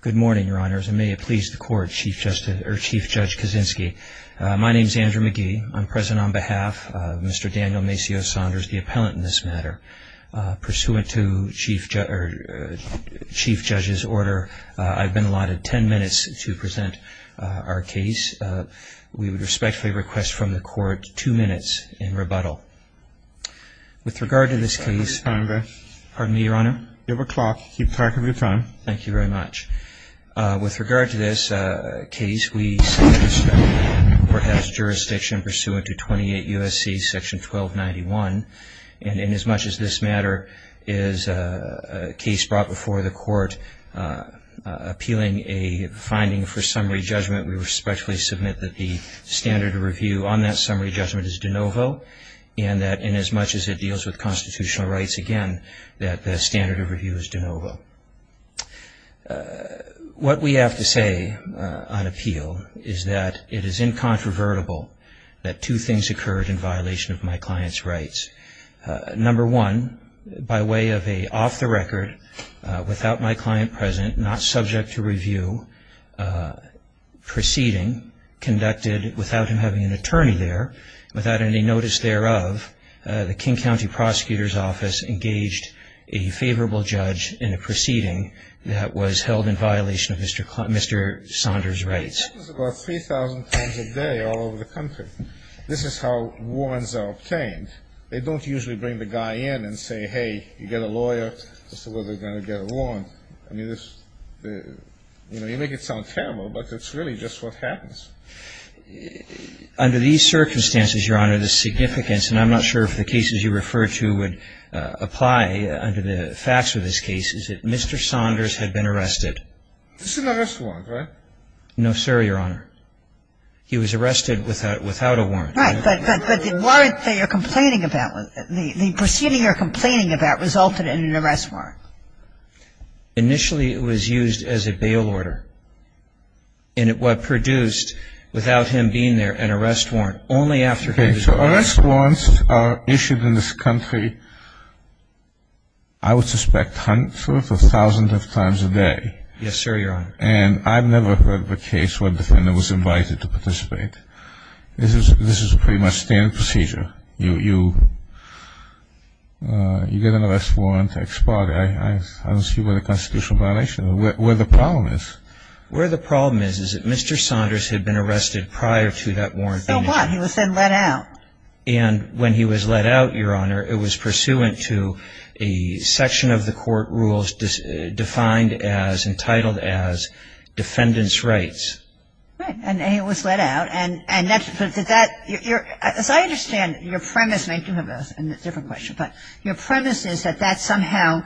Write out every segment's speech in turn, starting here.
Good morning your honors and may it please the court Chief Justice or Chief Judge Kaczynski. My name is Andrew McGee. I'm present on behalf of Mr. Daniel Macio Saunders the appellant in this matter. Pursuant to Chief Judge's order I've been allotted 10 minutes to present our case. We would respectfully request from the court two minutes in rebuttal. With regard to this case pardon me your honor. You have a clock keep track of your time. Thank you very much. With regard to this case we perhaps jurisdiction pursuant to 28 USC section 1291 and in as much as this matter is a case brought before the court appealing a finding for summary judgment we respectfully submit that the standard review on that summary judgment is de novo and that in as much as it deals with constitutional rights again that the standard of review is de novo. What we have to say on appeal is that it is incontrovertible that two things occurred in violation of my client's rights. Number one by way of a off the record without my client present not subject to review proceeding conducted without him having an attorney there without any notice thereof the King County prosecutor's office engaged a favorable judge in a proceeding that was held in violation of Mr. Saunders' rights. This is how warrants are obtained. They don't usually bring the guy in and say hey you get a lawyer just to see whether you're going to get a warrant. You make it sound terrible but it's really just what happens. Under these circumstances your honor the significance and I'm not sure if the cases you refer to would apply under the facts of this case is that Mr. Saunders had been arrested. This is an arrest warrant right? No sir your honor. He was arrested without a warrant. Right but the warrant that you're complaining about the proceeding you're complaining about resulted in an arrest warrant. Initially it was used as a bail order and it produced without him being there an arrest warrant only after. So arrest warrants are issued in this country I would suspect hundreds or thousands of times a day. Yes sir your honor. And I've never heard of a case where a defendant was invited to participate. This is a pretty much standard procedure. You get an arrest warrant expired. I don't see what a constitutional violation where the problem is. Where the problem is is that Mr. Saunders had been arrested prior to that warrant being issued. He was then let out. And when he was let out your honor it was pursuant to a section of the court rules defined as entitled as defendant's rights. Right and he was let out and as I understand your premise and I do have a different question but your premise is that somehow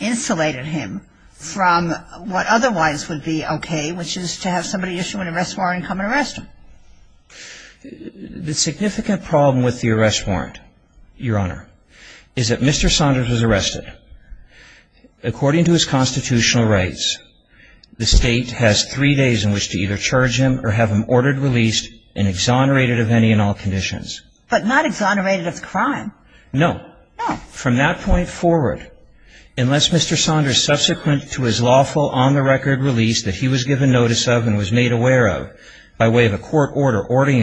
insulated him from what otherwise would be okay which is to have somebody issue an arrest warrant and come and arrest him. The significant problem with the arrest warrant your honor is that Mr. Saunders was arrested according to his constitutional rights. The state has three days in which to either charge him or have him ordered released and exonerated of any and all conditions. But not exonerated of the crime. No. No. From that point forward unless Mr. Saunders is subsequent to his lawful on the record release that he was given notice of and was made aware of by way of a court order ordering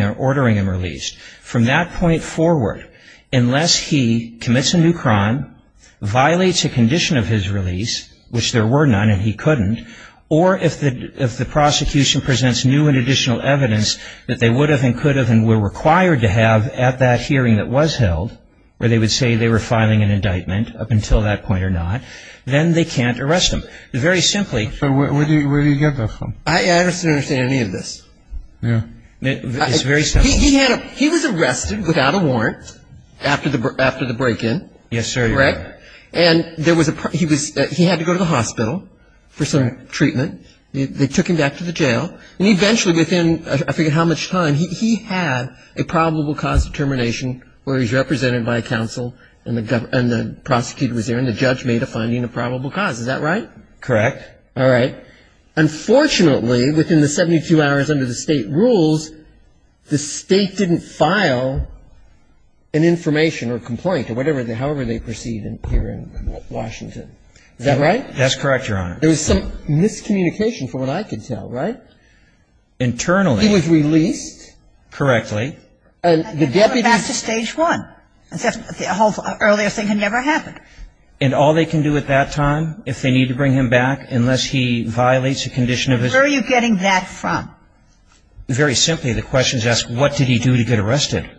him released. From that point forward unless he commits a new crime, violates a condition of his release which there were none and he couldn't or if the prosecution presents new and additional evidence that they would have and could have and were required to have at that hearing that was held where they would say they were going to arrest him. Very simply. So where do you get that from? I don't understand any of this. Yeah. It's very simple. He was arrested without a warrant after the break-in. Yes, sir. Right? And there was a he was he had to go to the hospital for some treatment. They took him back to the jail. And eventually within I forget how much time he had a probable cause of termination where he was represented by a counsel and the prosecutor was there and the judge made a finding of probable cause. Is that right? Correct. All right. Unfortunately, within the 72 hours under the State rules, the State didn't file an information or complaint or whatever however they proceed here in Washington. Is that right? That's correct, Your Honor. There was some miscommunication from what I could tell, right? Internally. He was released. Correctly. And the deputy. Back to Stage 1. The whole earlier thing had never happened. And all they can do at that time if they need to bring him back unless he violates a condition of his. Where are you getting that from? Very simply, the question is asked what did he do to get arrested?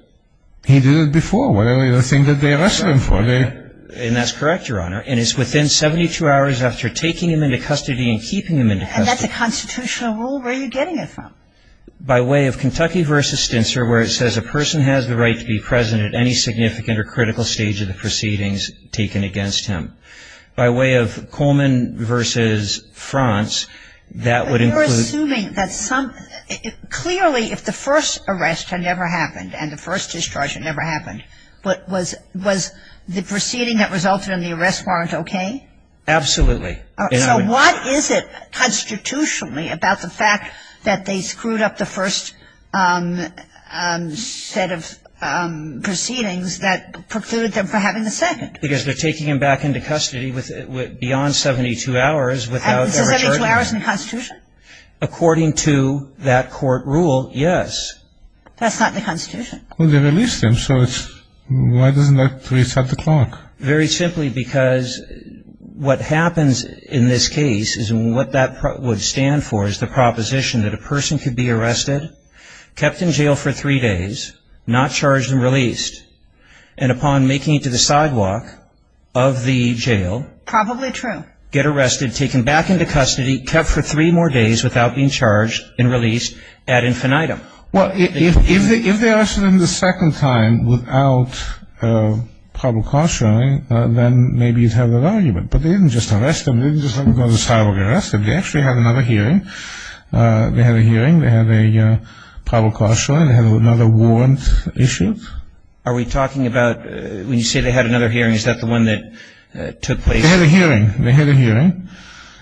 He did it before. Whatever you think that they arrested him for. And that's correct, Your Honor. And it's within 72 hours after taking him into custody and keeping him into custody. And that's a constitutional rule? Where are you getting it from? By way of Kentucky v. Stintzer where it says a person has the right to be present at any significant or critical stage of the proceedings taken against him. By way of Coleman v. France, that would include. But you're assuming that some, clearly if the first arrest had never happened and the first discharge had never happened, was the proceeding that resulted in the arrest warrant okay? Absolutely. So what is it constitutionally about the fact that they screwed up the first set of proceedings that precluded them from having the second? Because they're taking him back into custody beyond 72 hours without discharging him. Is 72 hours in the Constitution? According to that court rule, yes. That's not in the Constitution. Well, they released him. So why doesn't that reset the clock? Very simply because what happens in this case is what that would stand for is the proposition that a person could be arrested, kept in jail for three days, not charged and released, and upon making it to the sidewalk of the jail. Probably true. Get arrested, taken back into custody, kept for three more days without being charged and released ad infinitum. Well, if they arrested him the second time without probable cause shirring, then maybe you'd have that argument. But they didn't just arrest him. They didn't just let him go to the sidewalk and get arrested. They actually had another hearing. They had a hearing. They had a probable cause shirring. They had another warrant issued. Are we talking about when you say they had another hearing, is that the one that took place? They had a hearing. They had a hearing.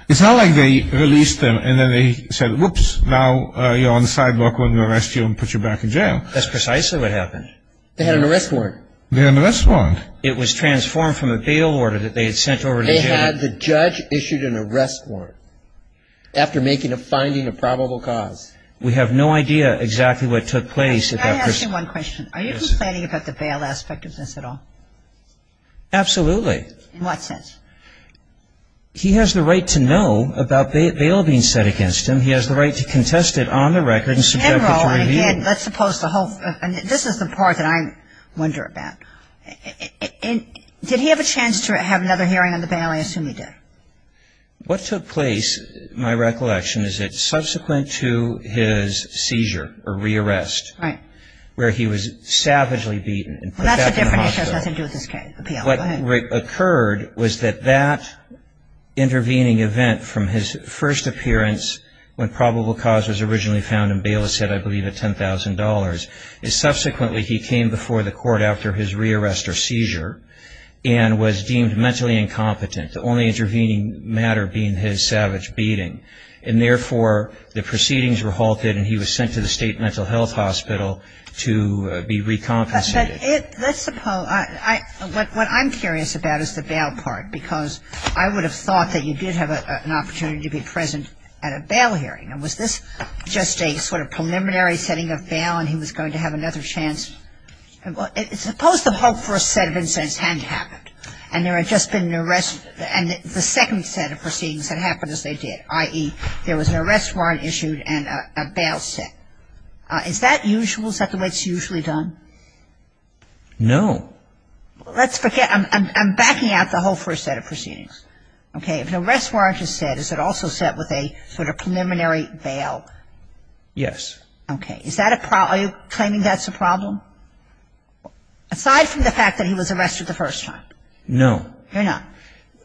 It's not like they released him and then they said, whoops, now you're on the sidewalk. We're going to arrest you and put you back in jail. That's precisely what happened. They had an arrest warrant. They had an arrest warrant. It was transformed from a bail order that they had sent over to jail. They had the judge issue an arrest warrant after making a finding of probable cause. We have no idea exactly what took place. Can I ask you one question? Are you complaining about the bail aspect of this at all? Absolutely. In what sense? He has the right to know about bail being set against him. He has the right to contest it on the record and subject it to review. And again, let's suppose the whole, this is the part that I wonder about. Did he have a chance to have another hearing on the bail? I assume he did. What took place, my recollection is that subsequent to his seizure or re-arrest where he was savagely beaten and put back in the hospital. Well, that's a different issue. It has nothing to do with this appeal. What occurred was that that intervening event from his first appearance when probable cause was originally found and bail was set, I believe, at $10,000, is subsequently he came before the court after his re-arrest or and was deemed mentally incompetent, the only intervening matter being his savage beating. And therefore, the proceedings were halted and he was sent to the state mental health hospital to be recompensated. But let's suppose, what I'm curious about is the bail part because I would have thought that you did have an opportunity to be present at a bail hearing. And was this just a sort of preliminary setting of bail and he was going to have another chance? Suppose the hope for a set of incidents hadn't happened and there had just been an arrest and the second set of proceedings had happened as they did, i.e., there was an arrest warrant issued and a bail set. Is that usual? Is that the way it's usually done? No. Let's forget ‑‑ I'm backing out the whole first set of proceedings. Okay. If an arrest warrant is set, is it also set with a sort of preliminary bail? Yes. Okay. Is that a problem? Are you claiming that's a problem? Aside from the fact that he was arrested the first time? No. You're not?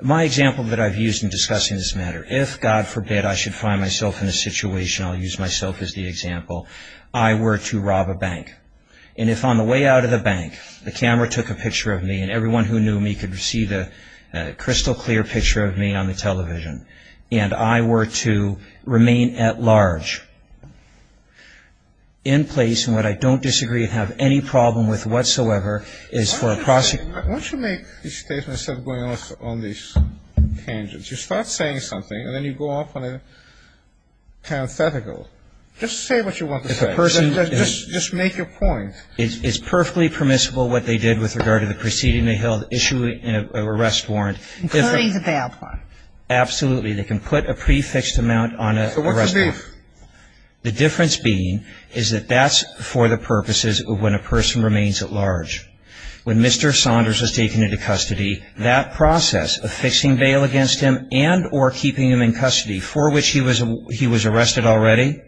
My example that I've used in discussing this matter, if, God forbid, I should find myself in a situation, I'll use myself as the example, I were to rob a bank. And if on the way out of the bank, the camera took a picture of me and everyone who knew me could see the crystal clear picture of me on the television, and I were to remain at large in place in what I don't disagree with whatsoever, is for a prosecutor ‑‑ Why don't you make a statement instead of going off on these tangents? You start saying something, and then you go off on a hypothetical. Just say what you want to say. Just make your point. It's perfectly permissible what they did with regard to the proceeding they held, issuing an arrest warrant. Including the bail part. Absolutely. They can put a prefixed amount on an arrest warrant. So what's the difference? The difference being is that that's for the purposes of when a person remains at large. When Mr. Saunders was taken into custody, that process of fixing bail against him and or keeping him in custody, for which he was arrested already,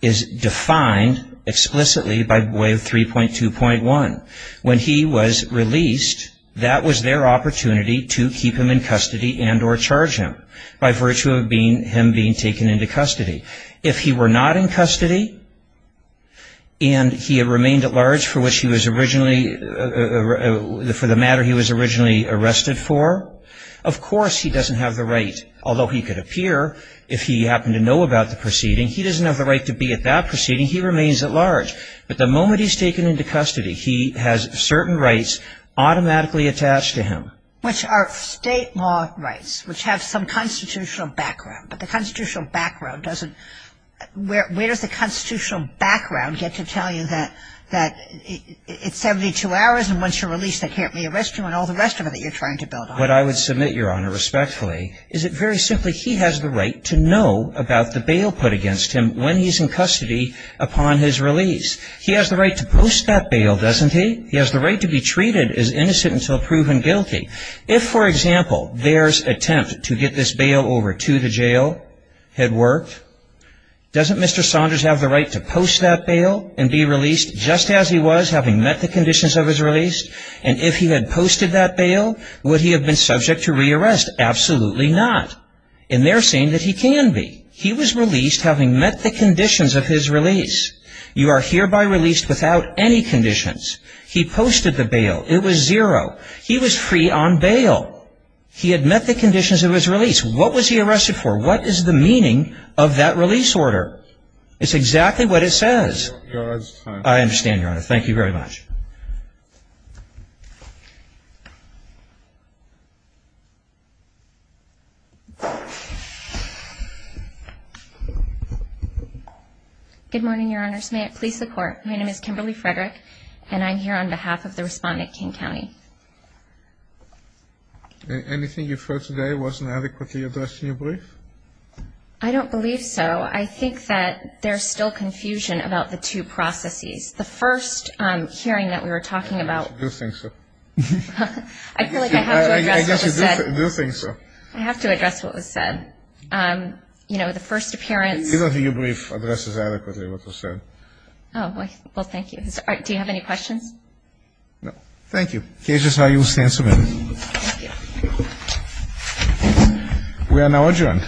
is defined explicitly by way of 3.2.1. When he was released, that was their opportunity to keep him in custody and or charge him by virtue of him being taken into custody. If he were not in custody, and he had remained at large for which he was originally ‑‑ for the matter he was originally arrested for, of course he doesn't have the right, although he could appear if he happened to know about the proceeding, he doesn't have the right to be at that proceeding. He remains at large. But the moment he's taken into custody, he has certain rights automatically attached to him. Which are state law rights, which have some constitutional background. But the constitutional background doesn't ‑‑ where does the constitutional background get to tell you that it's 72 hours and once you're released they can't re-arrest you and all the rest of it that you're trying to build on? What I would submit, Your Honor, respectfully, is that very simply he has the right to know about the bail put against him when he's in custody upon his release. He has the right to post that bail, doesn't he? He has the right to be treated as innocent until proven guilty. If, for example, there's attempt to get this bail over to the jail had worked, doesn't Mr. Saunders have the right to post that bail and be released just as he was having met the conditions of his release? And if he had posted that bail, would he have been subject to re-arrest? Absolutely not. And they're saying that he can be. He was released having met the conditions of his release. You are hereby released without any conditions. He posted the bail. It was zero. He was free on bail. He had met the conditions of his release. What was he arrested for? What is the meaning of that release order? It's exactly what it says. Your Honor, it's time. I understand, Your Honor. Thank you very much. Good morning, Your Honors. May it please the Court. My name is Kimberly Frederick and I'm here on behalf of the respondent, King County. Anything you've heard today wasn't adequately addressed in your brief? I don't believe so. I think that there's still confusion about the two processes. The first hearing that we were talking about I guess you do think so. I feel like I have to address what was said. I guess you do think so. I have to address what was said. You know, the first appearance Either of your briefs addresses adequately what was said. Oh, well, thank you. Do you have any questions? No. Thank you. Cases are you stand submitted. Thank you. We are now adjourned.